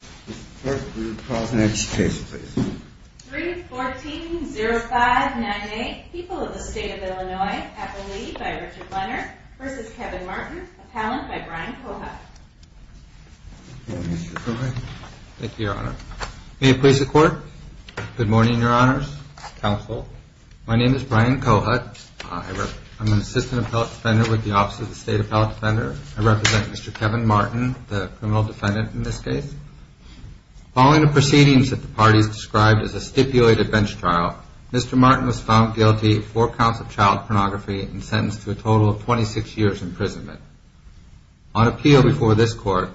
314-0598 People of the State of Illinois, Appellee by Richard Leonard v. Kevin Martin, Appellant by Brian Kohut Good morning Mr. Kohut. Thank you your honor. May it please the court. Good morning your honors, counsel. My name is Brian Kohut. I'm an assistant appellate defender with the office of the state appellate defender. I represent Mr. Kevin Martin, the criminal defendant in this case. Following the proceedings that the parties described as a stipulated bench trial, Mr. Martin was found guilty of four counts of child pornography and sentenced to a total of 26 years imprisonment. On appeal before this court,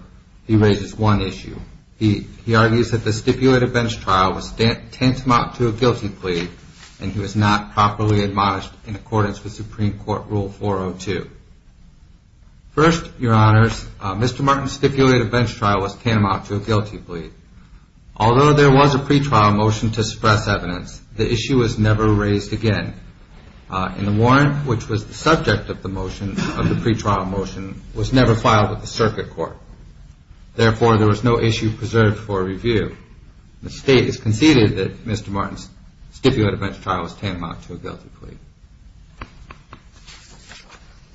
he raises one issue. He argues that the stipulated bench trial was tantamount to a guilty plea and he was not properly admonished in accordance with Supreme Court Rule 402. First, your honors, Mr. Martin's stipulated bench trial was tantamount to a guilty plea. Although there was a pretrial motion to express evidence, the issue was never raised again. And the warrant which was the subject of the motion, of the pretrial motion, was never filed with the circuit court. Therefore, there was no issue preserved for review. The state has conceded that Mr. Martin's stipulated bench trial was tantamount to a guilty plea.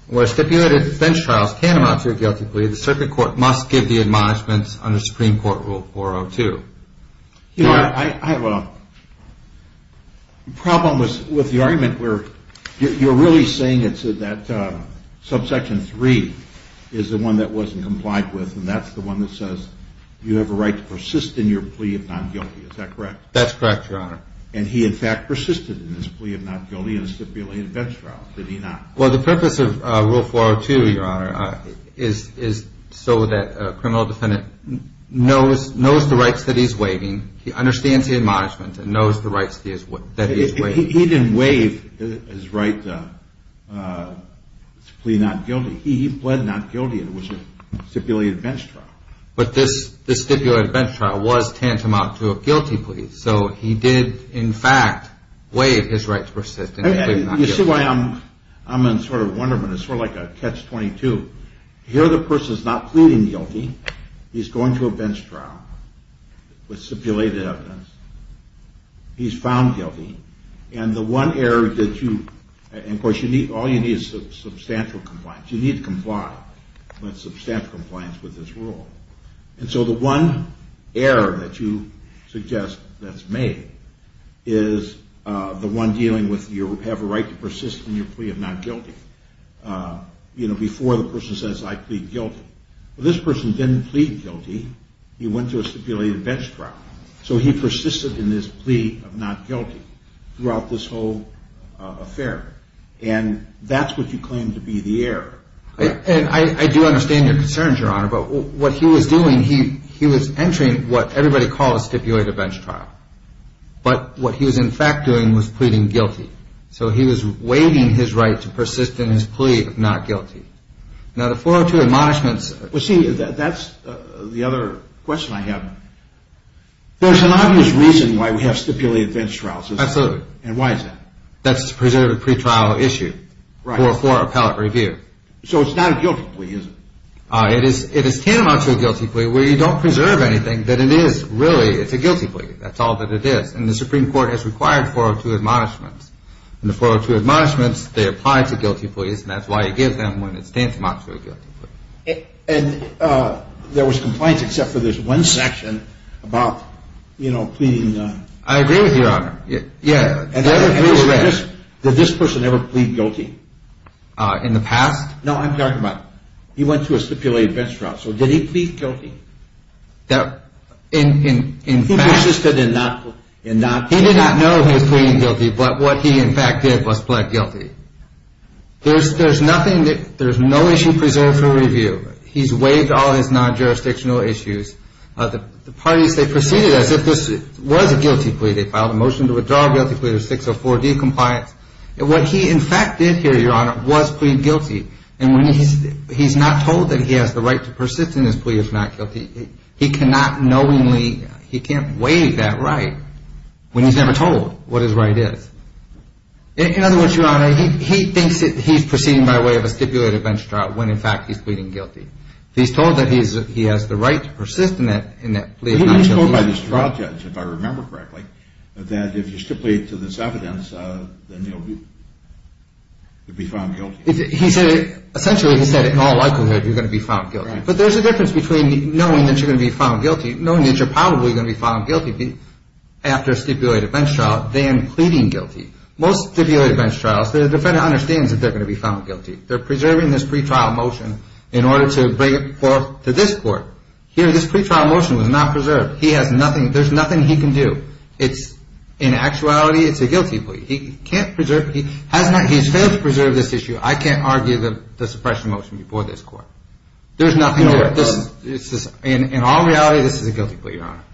Where stipulated bench trials tantamount to a guilty plea, the circuit court must give the admonishments under Supreme Court Rule 402. You know, I have a problem with the argument where you're really saying that subsection 3 is the one that wasn't complied with and that's the one that says you have a right to persist in your plea of not guilty. Is that correct? That's correct, your honor. And he in fact persisted in his plea of not guilty in a stipulated bench trial, did he not? Well, the purpose of Rule 402, your honor, is so that a criminal defendant knows the rights that he's waiving. He understands the admonishments and knows the rights that he's waiving. He didn't waive his right to plea not guilty. He pled not guilty in a stipulated bench trial. But this stipulated bench trial was tantamount to a guilty plea. So he did in fact waive his right to persist in his plea of not guilty. You see why I'm in sort of wonderment. It's sort of like a catch-22. Here the person's not pleading guilty. He's going to a bench trial with stipulated evidence. He's found guilty. And the one error that you, and of course all you need is substantial compliance. You need to comply with substantial compliance with this rule. And so the one error that you suggest that's made is the one dealing with you have a right to persist in your plea of not guilty. You know, before the person says I plead guilty. Well, this person didn't plead guilty. He went to a stipulated bench trial. So he persisted in his plea of not guilty throughout this whole affair. And that's what you claim to be the error. And I do understand your concerns, Your Honor. But what he was doing, he was entering what everybody calls stipulated bench trial. But what he was in fact doing was pleading guilty. So he was waiving his right to persist in his plea of not guilty. Now the 402 admonishments. Well, see, that's the other question I have. There's an obvious reason why we have stipulated bench trials. Absolutely. And why is that? That's to preserve a pretrial issue for appellate review. So it's not a guilty plea, is it? It is tantamount to a guilty plea where you don't preserve anything that it is really. It's a guilty plea. That's all that it is. And the Supreme Court has required 402 admonishments. And the 402 admonishments, they apply to guilty pleas. And that's why you give them when it's tantamount to a guilty plea. And there was compliance except for this one section about, you know, pleading. I agree with you, Your Honor. Yeah. Did this person ever plead guilty? In the past? No, I'm talking about he went through a stipulated bench trial. So did he plead guilty? He persisted in not pleading guilty. He did not know he was pleading guilty, but what he in fact did was plead guilty. There's nothing, there's no issue preserved for review. He's waived all his non-jurisdictional issues. The parties, they proceeded as if this was a guilty plea. They filed a motion to withdraw guilty plea to 604D compliance. What he in fact did here, Your Honor, was plead guilty. And when he's not told that he has the right to persist in his plea of not guilty, he cannot knowingly, he can't waive that right when he's never told what his right is. In other words, Your Honor, he thinks that he's proceeding by way of a stipulated bench trial when in fact he's pleading guilty. He's told that he has the right to persist in that plea of not guilty. He was told by this trial judge, if I remember correctly, that if you stipulate to this evidence, then you'll be found guilty. Essentially, he said, in all likelihood, you're going to be found guilty. But there's a difference between knowing that you're going to be found guilty, knowing that you're probably going to be found guilty after a stipulated bench trial, than pleading guilty. Most stipulated bench trials, the defendant understands that they're going to be found guilty. They're preserving this pretrial motion in order to bring it forth to this court. Here, this pretrial motion was not preserved. He has nothing, there's nothing he can do. It's, in actuality, it's a guilty plea. He can't preserve, he has not, he has failed to preserve this issue. I can't argue the suppression motion before this court. There's nothing there. In all reality, this is a guilty plea, Your Honor.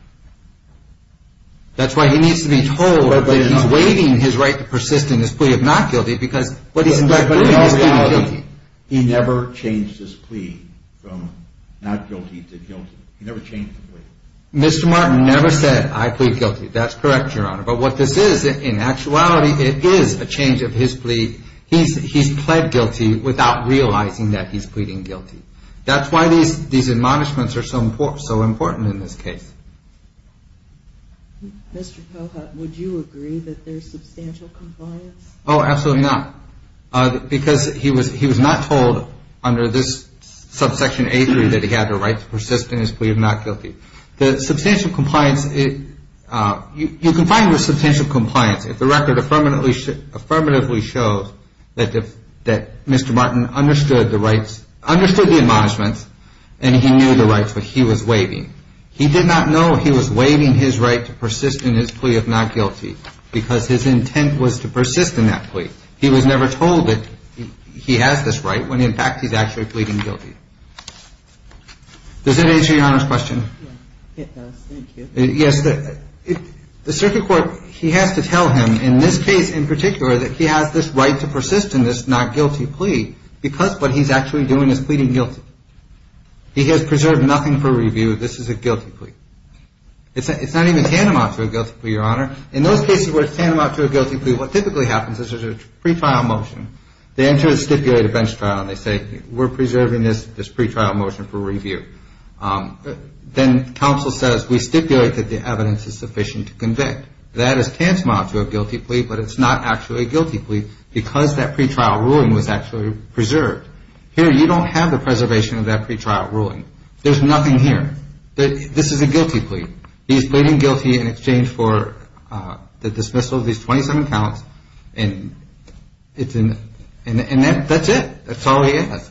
That's why he needs to be told that he's waiving his right to persist in his plea of not guilty because what he's in fact doing is going to kill him. He never changed his plea from not guilty to guilty. He never changed the plea. Mr. Martin never said, I plead guilty. That's correct, Your Honor. But what this is, in actuality, it is a change of his plea. He's pled guilty without realizing that he's pleading guilty. That's why these admonishments are so important in this case. Mr. Pohut, would you agree that there's substantial compliance? Oh, absolutely not. Because he was not told under this subsection A3 that he had the right to persist in his plea of not guilty. The substantial compliance, you can find the substantial compliance if the record affirmatively shows that Mr. Martin understood the rights, understood the admonishments, and he knew the rights that he was waiving. He did not know he was waiving his right to persist in his plea of not guilty because his intent was to persist in that plea. He was never told that he has this right when, in fact, he's actually pleading guilty. Does that answer Your Honor's question? Yes, it does. Thank you. Yes. The circuit court, he has to tell him, in this case in particular, that he has this right to persist in this not guilty plea because what he's actually doing is pleading guilty. He has preserved nothing for review. This is a guilty plea. It's not even tantamount to a guilty plea, Your Honor. In those cases where it's tantamount to a guilty plea, what typically happens is there's a pretrial motion. They enter a stipulated bench trial and they say, we're preserving this pretrial motion for review. Then counsel says, we stipulate that the evidence is sufficient to convict. That is tantamount to a guilty plea, but it's not actually a guilty plea because that pretrial ruling was actually preserved. Here you don't have the preservation of that pretrial ruling. There's nothing here. This is a guilty plea. He's pleading guilty in exchange for the dismissal of these 27 counts, and that's it. That's all he has.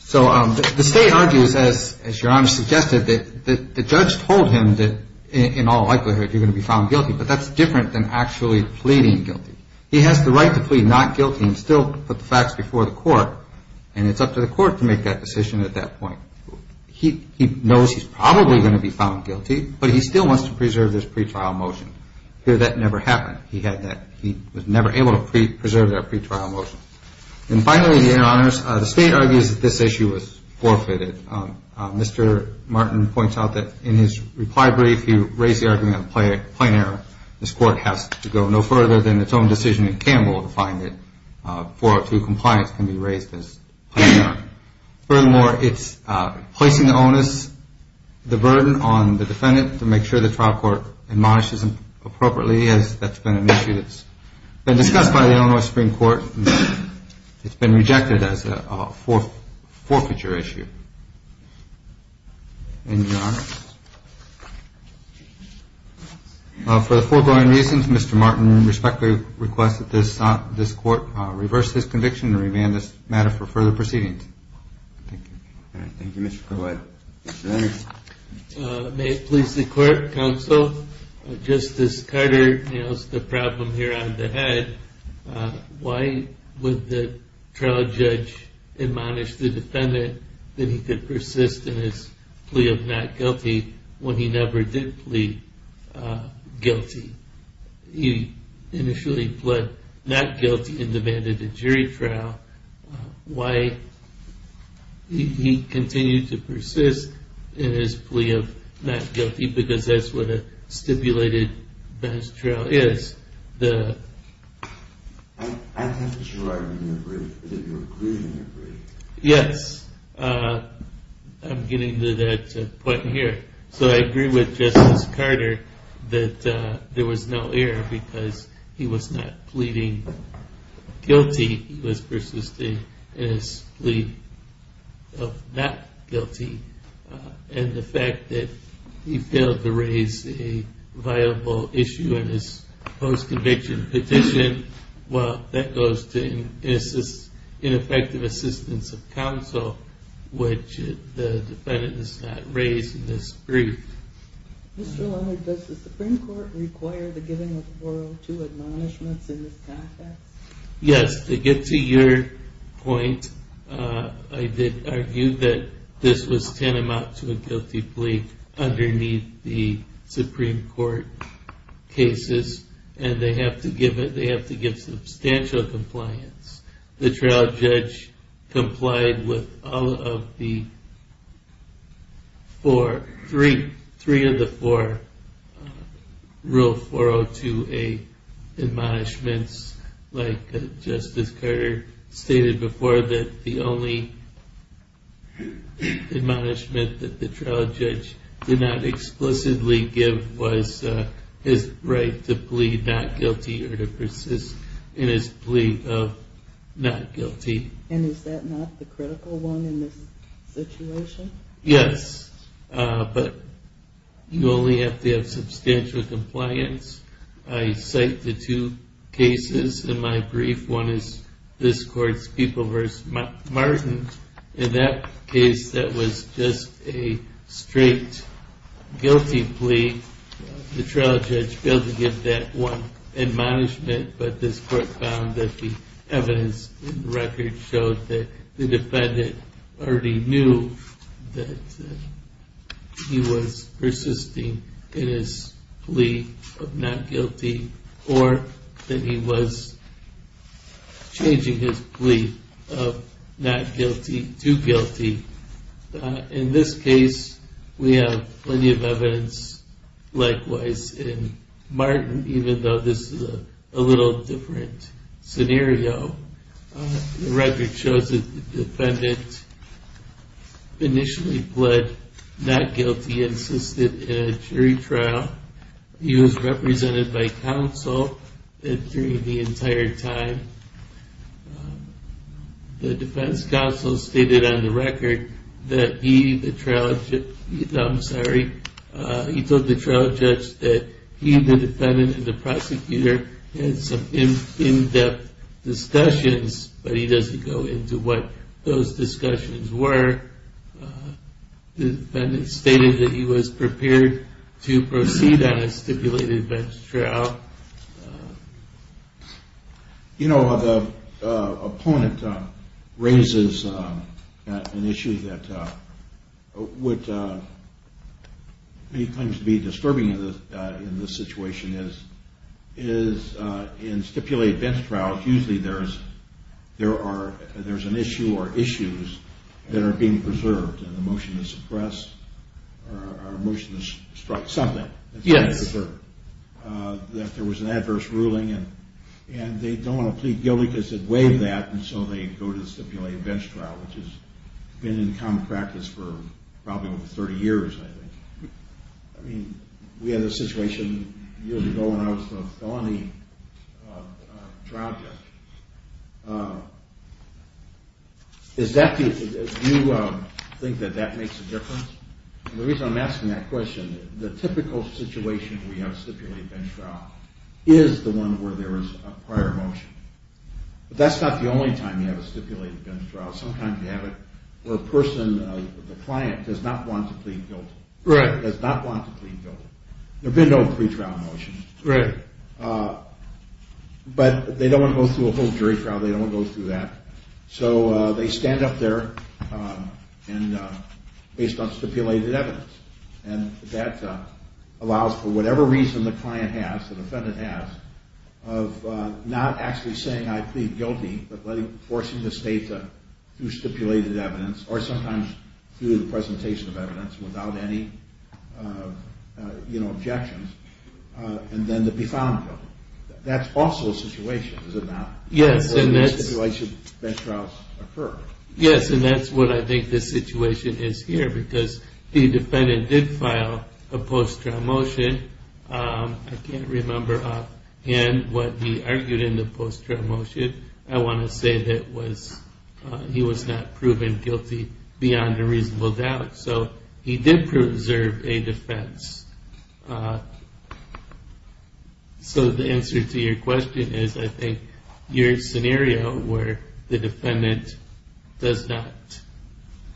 So the state argues, as Your Honor suggested, that the judge told him that in all likelihood you're going to be found guilty, but that's different than actually pleading guilty. He has the right to plead not guilty and still put the facts before the court, and it's up to the court to make that decision at that point. He knows he's probably going to be found guilty, but he still wants to preserve this pretrial motion. Here that never happened. He was never able to preserve that pretrial motion. And finally, Your Honors, the state argues that this issue was forfeited. Mr. Martin points out that in his reply brief he raised the argument of a plain error. This court has to go no further than its own decision in Campbell to find that 402 compliance can be raised as plain error. Furthermore, it's placing the onus, the burden, on the defendant to make sure the trial court admonishes him appropriately. That's been an issue that's been discussed by the Illinois Supreme Court. It's been rejected as a forfeiture issue. Thank you, Your Honors. For the foregoing reasons, Mr. Martin respectfully requests that this court reverse his conviction and remand this matter for further proceedings. Thank you. Thank you, Mr. Collette. May it please the court, counsel, Justice Carter has the problem here on the head. Why would the trial judge admonish the defendant that he could persist in his plea of not guilty when he never did plead guilty? He initially pled not guilty and demanded a jury trial. Why did he continue to persist in his plea of not guilty? Because that's what a stipulated best trial is. I think it's your argument that you're agreeing to agree. Yes, I'm getting to that point here. So I agree with Justice Carter that there was no error because he was not pleading guilty. He was persisting in his plea of not guilty. And the fact that he failed to raise a viable issue in his post-conviction petition, well, that goes to ineffective assistance of counsel, which the defendant has not raised in this brief. Mr. Leonard, does the Supreme Court require the giving of 402 admonishments in this context? Yes, to get to your point, I did argue that this was tantamount to a guilty plea underneath the Supreme Court cases, and they have to give substantial compliance. The trial judge complied with all of the three of the four Rule 402A admonishments. Justice Carter stated before that the only admonishment that the trial judge did not explicitly give was his right to plead not guilty or to persist in his plea of not guilty. And is that not the critical one in this situation? Yes, but you only have to have substantial compliance. I cite the two cases in my brief. One is this Court's People v. Martin. In that case, that was just a straight guilty plea. The trial judge failed to give that one admonishment, but this Court found that the evidence in the record showed that the defendant already knew that he was persisting in his plea of not guilty or that he was changing his plea of not guilty to guilty. In this case, we have plenty of evidence likewise in Martin, even though this is a little different scenario. The record shows that the defendant initially pled not guilty and insisted in a jury trial. He was represented by counsel during the entire time. The defense counsel stated on the record that he, the trial judge, he told the trial judge that he, the defendant, and the prosecutor had some in-depth discussions, but he doesn't go into what those discussions were. The defendant stated that he was prepared to proceed on a stipulated bench trial. Well, you know, the opponent raises an issue that he claims to be disturbing in this situation. In stipulated bench trials, usually there's an issue or issues that are being preserved. And the motion to suppress or motion to strike something that there was an adverse ruling, and they don't want to plead guilty because it waived that, and so they go to the stipulated bench trial, which has been in common practice for probably over 30 years, I think. I mean, we had a situation years ago when I was the felony trial judge. Do you think that that makes a difference? The reason I'm asking that question, the typical situation where you have a stipulated bench trial is the one where there is a prior motion. But that's not the only time you have a stipulated bench trial. Sometimes you have it where a person, the client, does not want to plead guilty. Does not want to plead guilty. There have been no pretrial motions. But they don't want to go through a whole jury trial. They don't want to go through that. So they stand up there based on stipulated evidence, and that allows for whatever reason the client has, the defendant has, of not actually saying, I plead guilty, but forcing the state through stipulated evidence or sometimes through the presentation of evidence without any objections. And then to be found guilty. That's also a situation, is it not? Yes, and that's what I think the situation is here because the defendant did file a post-trial motion. I can't remember offhand what he argued in the post-trial motion. I want to say that he was not proven guilty beyond a reasonable doubt. So he did preserve a defense. So the answer to your question is I think your scenario where the defendant does not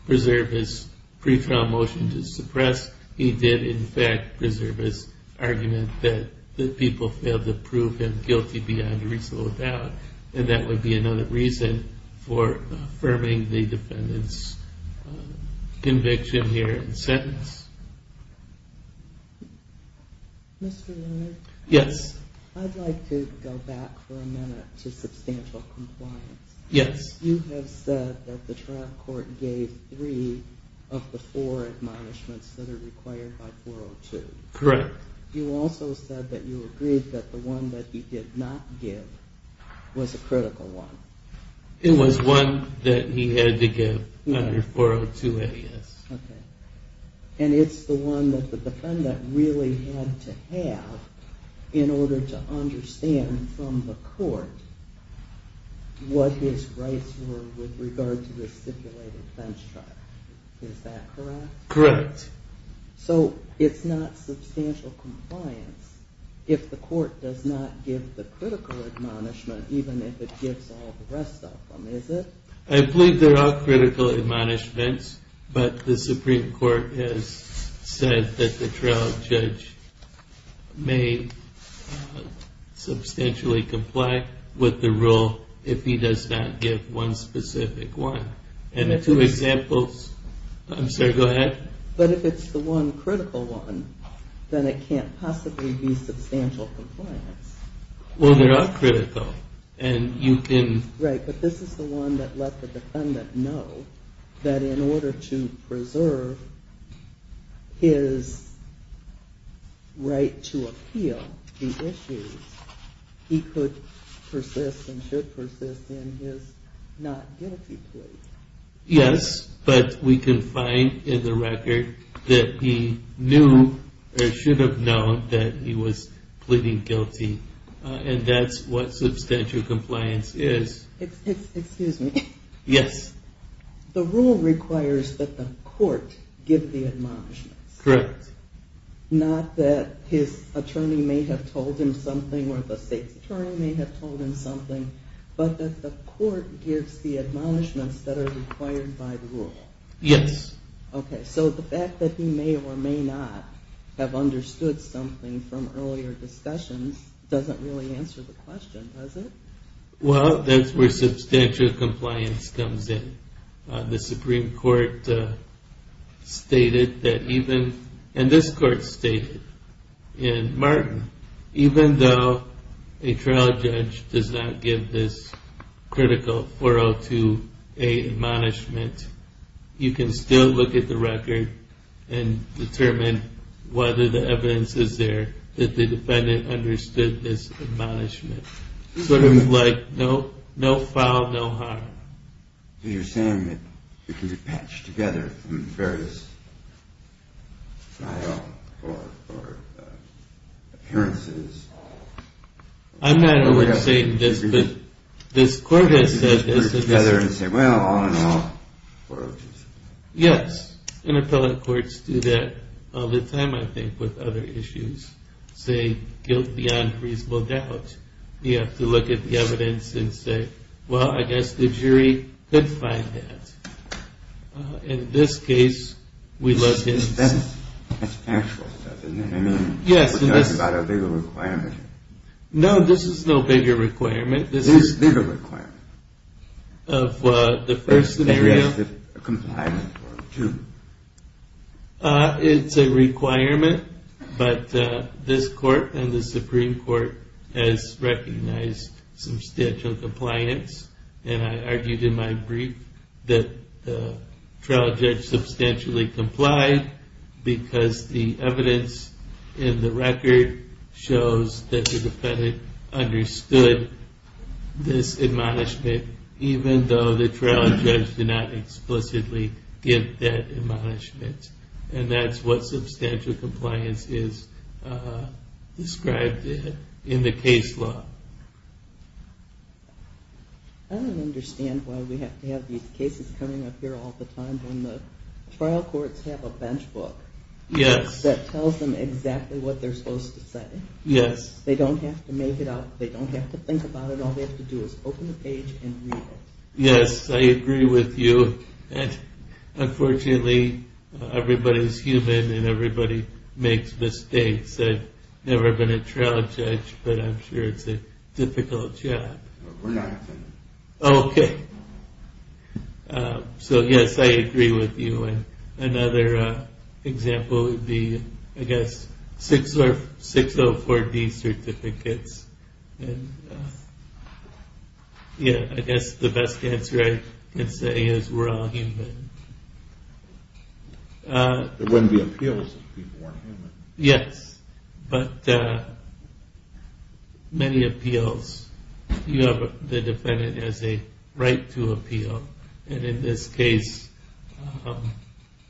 preserve his pretrial motion to suppress, he did, in fact, preserve his argument that the people failed to prove him guilty beyond a reasonable doubt. And that would be another reason for affirming the defendant's conviction here in the sentence. Mr. Leonard? Yes. I'd like to go back for a minute to substantial compliance. Yes. You have said that the trial court gave three of the four admonishments that are required by 402. Correct. You also said that you agreed that the one that he did not give was a critical one. It was one that he had to give under 402 AS. Okay. And it's the one that the defendant really had to have in order to understand from the court what his rights were with regard to the stipulated fence trial. Is that correct? Correct. So it's not substantial compliance if the court does not give the critical admonishment even if it gives all the rest of them, is it? I believe there are critical admonishments, but the Supreme Court has said that the trial judge may substantially comply with the rule if he does not give one specific one. And the two examples – I'm sorry, go ahead. But if it's the one critical one, then it can't possibly be substantial compliance. Well, they're all critical, and you can – Right, but this is the one that let the defendant know that in order to preserve his right to appeal the issues, he could persist and should persist in his not guilty plea. Yes, but we can find in the record that he knew or should have known that he was pleading guilty, and that's what substantial compliance is. Excuse me. Yes. The rule requires that the court give the admonishments. Correct. Not that his attorney may have told him something or the state's attorney may have told him something, but that the court gives the admonishments that are required by the rule. Yes. Okay, so the fact that he may or may not have understood something from earlier discussions doesn't really answer the question, does it? Well, that's where substantial compliance comes in. The Supreme Court stated that even – and this court stated in Martin, even though a trial judge does not give this critical 402A admonishment, you can still look at the record and determine whether the evidence is there that the defendant understood this admonishment. Sort of like no foul, no harm. So you're saying that it can be patched together from various trial or appearances. I'm not aware of saying this, but this court has said this. Put it together and say, well, all in all, 402C. Yes, and appellate courts do that all the time, I think, with other issues, say guilt beyond reasonable doubt. You have to look at the evidence and say, well, I guess the jury could find that. In this case, we look at – That's factual stuff, isn't it? I mean, we're talking about a bigger requirement. No, this is no bigger requirement. This is – This is a bigger requirement. Of the first scenario? Yes, the compliance one, too. It's a requirement, but this court and the Supreme Court has recognized substantial compliance, and I argued in my brief that the trial judge substantially complied because the evidence in the record shows that the defendant understood this admonishment, even though the trial judge did not explicitly give that admonishment, and that's what substantial compliance is described in the case law. I don't understand why we have to have these cases coming up here all the time when the trial courts have a bench book that tells them exactly what they're supposed to say. Yes. They don't have to make it up. They don't have to think about it. All they have to do is open the page and read it. Yes, I agree with you, and unfortunately, everybody's human and everybody makes mistakes. I've never been a trial judge, but I'm sure it's a difficult job. We're not offended. Okay. So, yes, I agree with you. Another example would be, I guess, 604D certificates. Yes, I guess the best answer I can say is we're all human. There wouldn't be appeals if people weren't human. Yes, but many appeals. The defendant has a right to appeal, and in this case,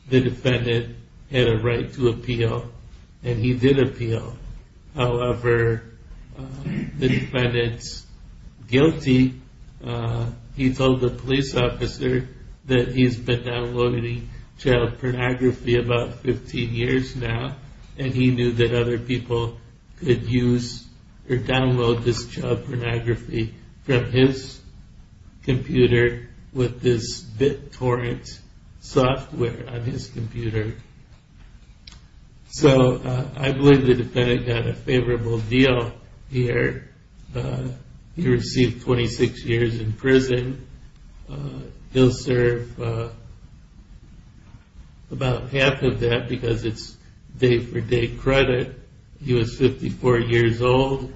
the defendant had a right to appeal, and he did appeal. However, the defendant's guilty. He told the police officer that he's been downloading child pornography about 15 years now, and he knew that other people could use or download this child pornography from his computer with this BitTorrent software on his computer. So I believe the defendant got a favorable deal here. He received 26 years in prison. He'll serve about half of that because it's day-for-day credit. He was 54 years old.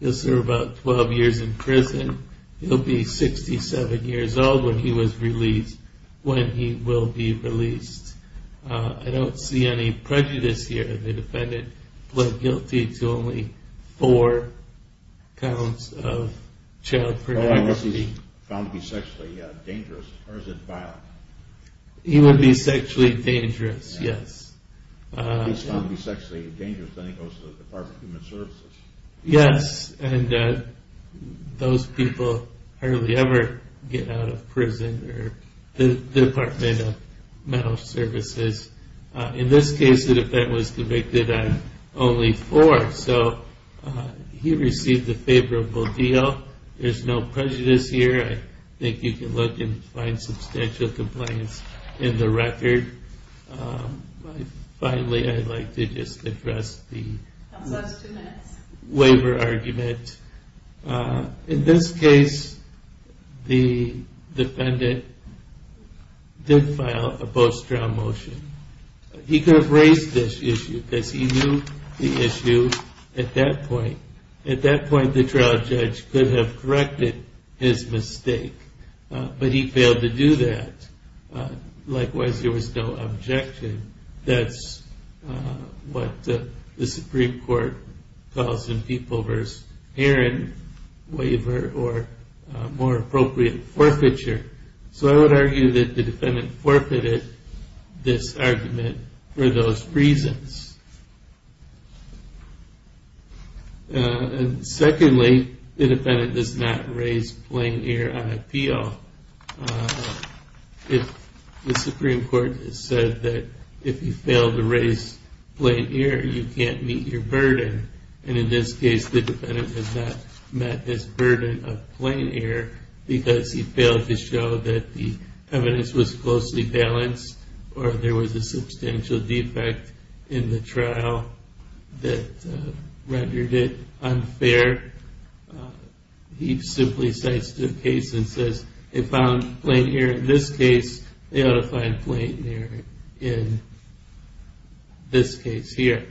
He'll serve about 12 years in prison. He'll be 67 years old when he will be released. I don't see any prejudice here. The defendant pled guilty to only four counts of child pornography. Unless he's found to be sexually dangerous, or is it violent? He would be sexually dangerous, yes. If he's found to be sexually dangerous, then he goes to the Department of Human Services. Yes, and those people hardly ever get out of prison or the Department of Mental Services. In this case, the defendant was convicted on only four. So he received a favorable deal. There's no prejudice here. I think you can look and find substantial complaints in the record. Finally, I'd like to just address the waiver argument. In this case, the defendant did file a post-trial motion. He could have raised this issue because he knew the issue at that point. At that point, the trial judge could have corrected his mistake, but he failed to do that. Likewise, there was no objection. That's what the Supreme Court calls in People v. Aaron waiver, or more appropriate, forfeiture. So I would argue that the defendant forfeited this argument for those reasons. Secondly, the defendant does not raise plain-ear on appeal. The Supreme Court has said that if you fail to raise plain-ear, you can't meet your burden. In this case, the defendant has not met his burden of plain-ear because he failed to show that the evidence was closely balanced or there was a substantial defect in the trial that rendered it unfair. He simply cites the case and says, if I'm plain-ear in this case, they ought to find plain-ear in this case here.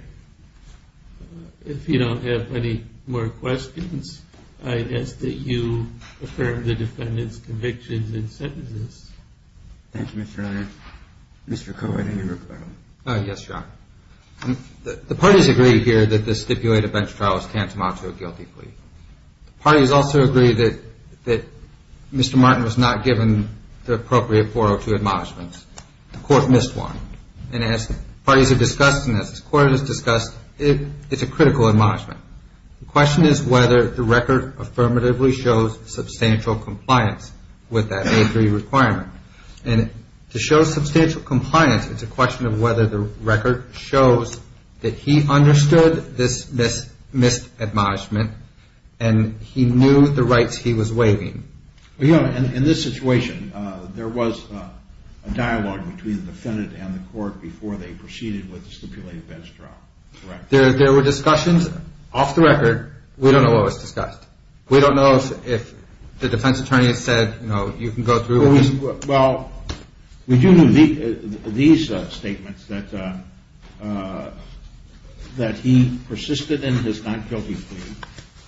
If you don't have any more questions, I guess that you affirm the defendant's convictions and sentences. Thank you, Mr. Leonard. Mr. Cowart, any more questions? Yes, Your Honor. The parties agree here that this stipulated bench trial is tantamount to a guilty plea. The parties also agree that Mr. Martin was not given the appropriate 402 admonishments. The Court missed one. And as parties have discussed and as the Court has discussed, it's a critical admonishment. The question is whether the record affirmatively shows substantial compliance with that A3 requirement. And to show substantial compliance, it's a question of whether the record shows that he understood this missed admonishment and he knew the rights he was waiving. Well, Your Honor, in this situation, there was a dialogue between the defendant and the Court before they proceeded with the stipulated bench trial, correct? There were discussions off the record. We don't know what was discussed. We don't know if the defense attorney said, you know, you can go through with this. Well, we do know these statements, that he persisted in his not guilty plea.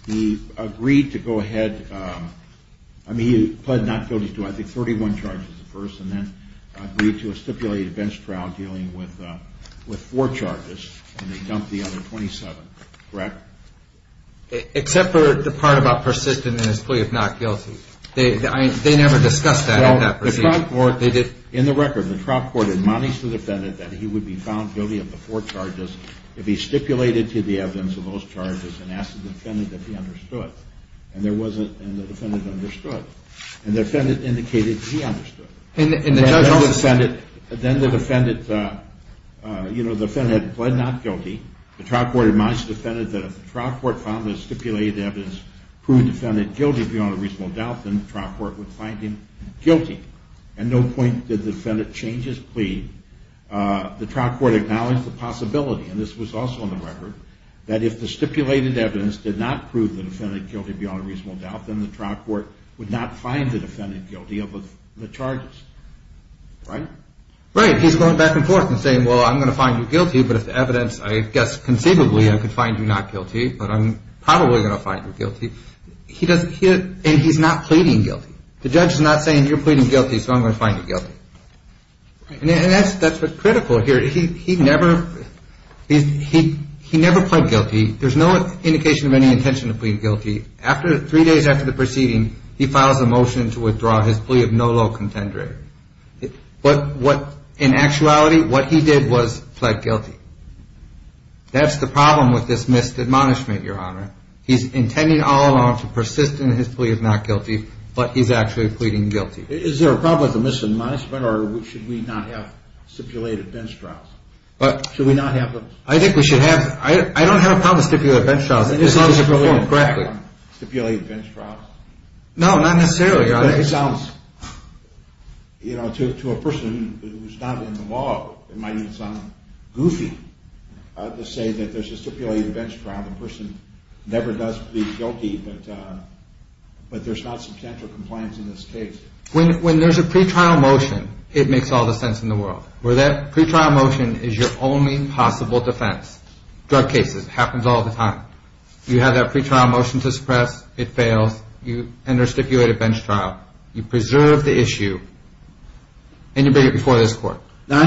He agreed to go ahead. I mean, he pled not guilty to, I think, 31 charges at first, and then agreed to a stipulated bench trial dealing with four charges, and he dumped the other 27, correct? Except for the part about persisting in his plea of not guilty. They never discussed that in that proceeding. In the record, the trial court admonished the defendant that he would be found guilty of the four charges if he stipulated to the evidence of those charges and asked the defendant if he understood. And there wasn't, and the defendant understood. And the defendant indicated he understood. And the judge also said it. Then the defendant, you know, the defendant pled not guilty. The trial court admonished the defendant that if the trial court found the stipulated evidence, proved the defendant guilty beyond a reasonable doubt, then the trial court would find him guilty. At no point did the defendant change his plea. The trial court acknowledged the possibility, and this was also in the record, that if the stipulated evidence did not prove the defendant guilty beyond a reasonable doubt, then the trial court would not find the defendant guilty of the charges. Right? Right. He's going back and forth and saying, well, I'm going to find you guilty, but if the evidence, I guess, conceivably I could find you not guilty, but I'm probably going to find you guilty. And he's not pleading guilty. The judge is not saying, you're pleading guilty, so I'm going to find you guilty. And that's what's critical here. He never pled guilty. There's no indication of any intention to plead guilty. Three days after the proceeding, he files a motion to withdraw his plea of no low contender. In actuality, what he did was pled guilty. That's the problem with this missed admonishment, Your Honor. He's intending all along to persist in his plea of not guilty, but he's actually pleading guilty. Is there a problem with the missed admonishment, or should we not have stipulated bench trials? Should we not have them? I think we should have them. I don't have a problem with stipulated bench trials, as long as it's performed correctly. No, not necessarily, Your Honor. It sounds, you know, to a person who's not in the law, it might even sound goofy to say that there's a stipulated bench trial. The person never does plead guilty, but there's not substantial compliance in this case. When there's a pretrial motion, it makes all the sense in the world. Where that pretrial motion is your only possible defense. Drug cases, it happens all the time. You enter a stipulated bench trial, you preserve the issue, and you bring it before this court. Now,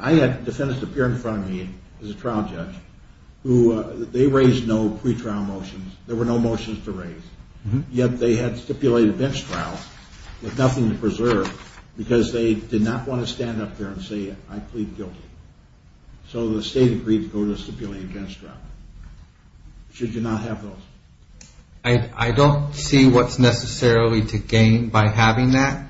I had defendants appear in front of me as a trial judge. They raised no pretrial motions. There were no motions to raise, yet they had stipulated bench trials with nothing to preserve because they did not want to stand up there and say, I plead guilty. So the state agreed to go to a stipulated bench trial. Should you not have those? I don't see what's necessarily to gain by having that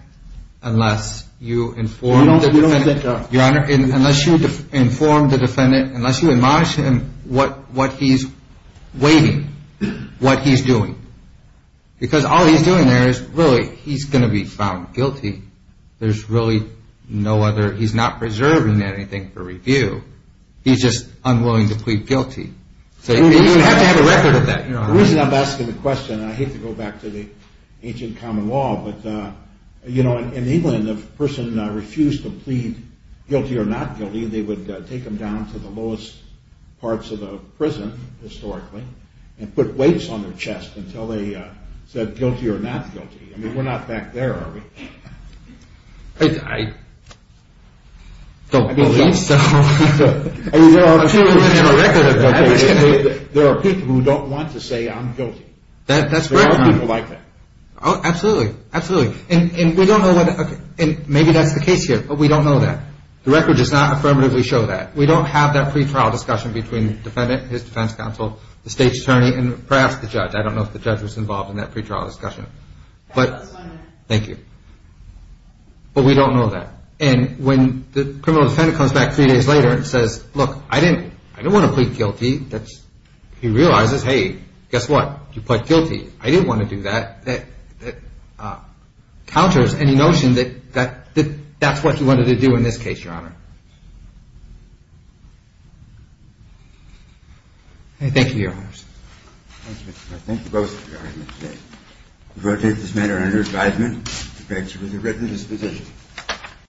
unless you inform the defendant. Your Honor, unless you inform the defendant, unless you admonish him what he's waiting, what he's doing. Because all he's doing there is really, he's going to be found guilty. There's really no other, he's not preserving anything for review. He's just unwilling to plead guilty. You have to have a record of that. The reason I'm asking the question, and I hate to go back to the ancient common law, but in England, if a person refused to plead guilty or not guilty, they would take them down to the lowest parts of the prison, historically, and put weights on their chest until they said guilty or not guilty. I mean, we're not back there, are we? I don't believe so. There are people who don't want to say I'm guilty. There are people like that. Absolutely. And we don't know whether, maybe that's the case here, but we don't know that. The record does not affirmatively show that. We don't have that pretrial discussion between the defendant, his defense counsel, the state's attorney, and perhaps the judge. I don't know if the judge was involved in that pretrial discussion. Thank you. But we don't know that. And when the criminal defendant comes back three days later and says, look, I didn't want to plead guilty, he realizes, hey, guess what? You plead guilty. I didn't want to do that. That counters any notion that that's what he wanted to do in this case, Your Honor. Thank you, Your Honors. Thank you, Mr. Farr. Thank you both for your argument today. We will take this matter under advisement. Thank you. The bench is in a readiness position.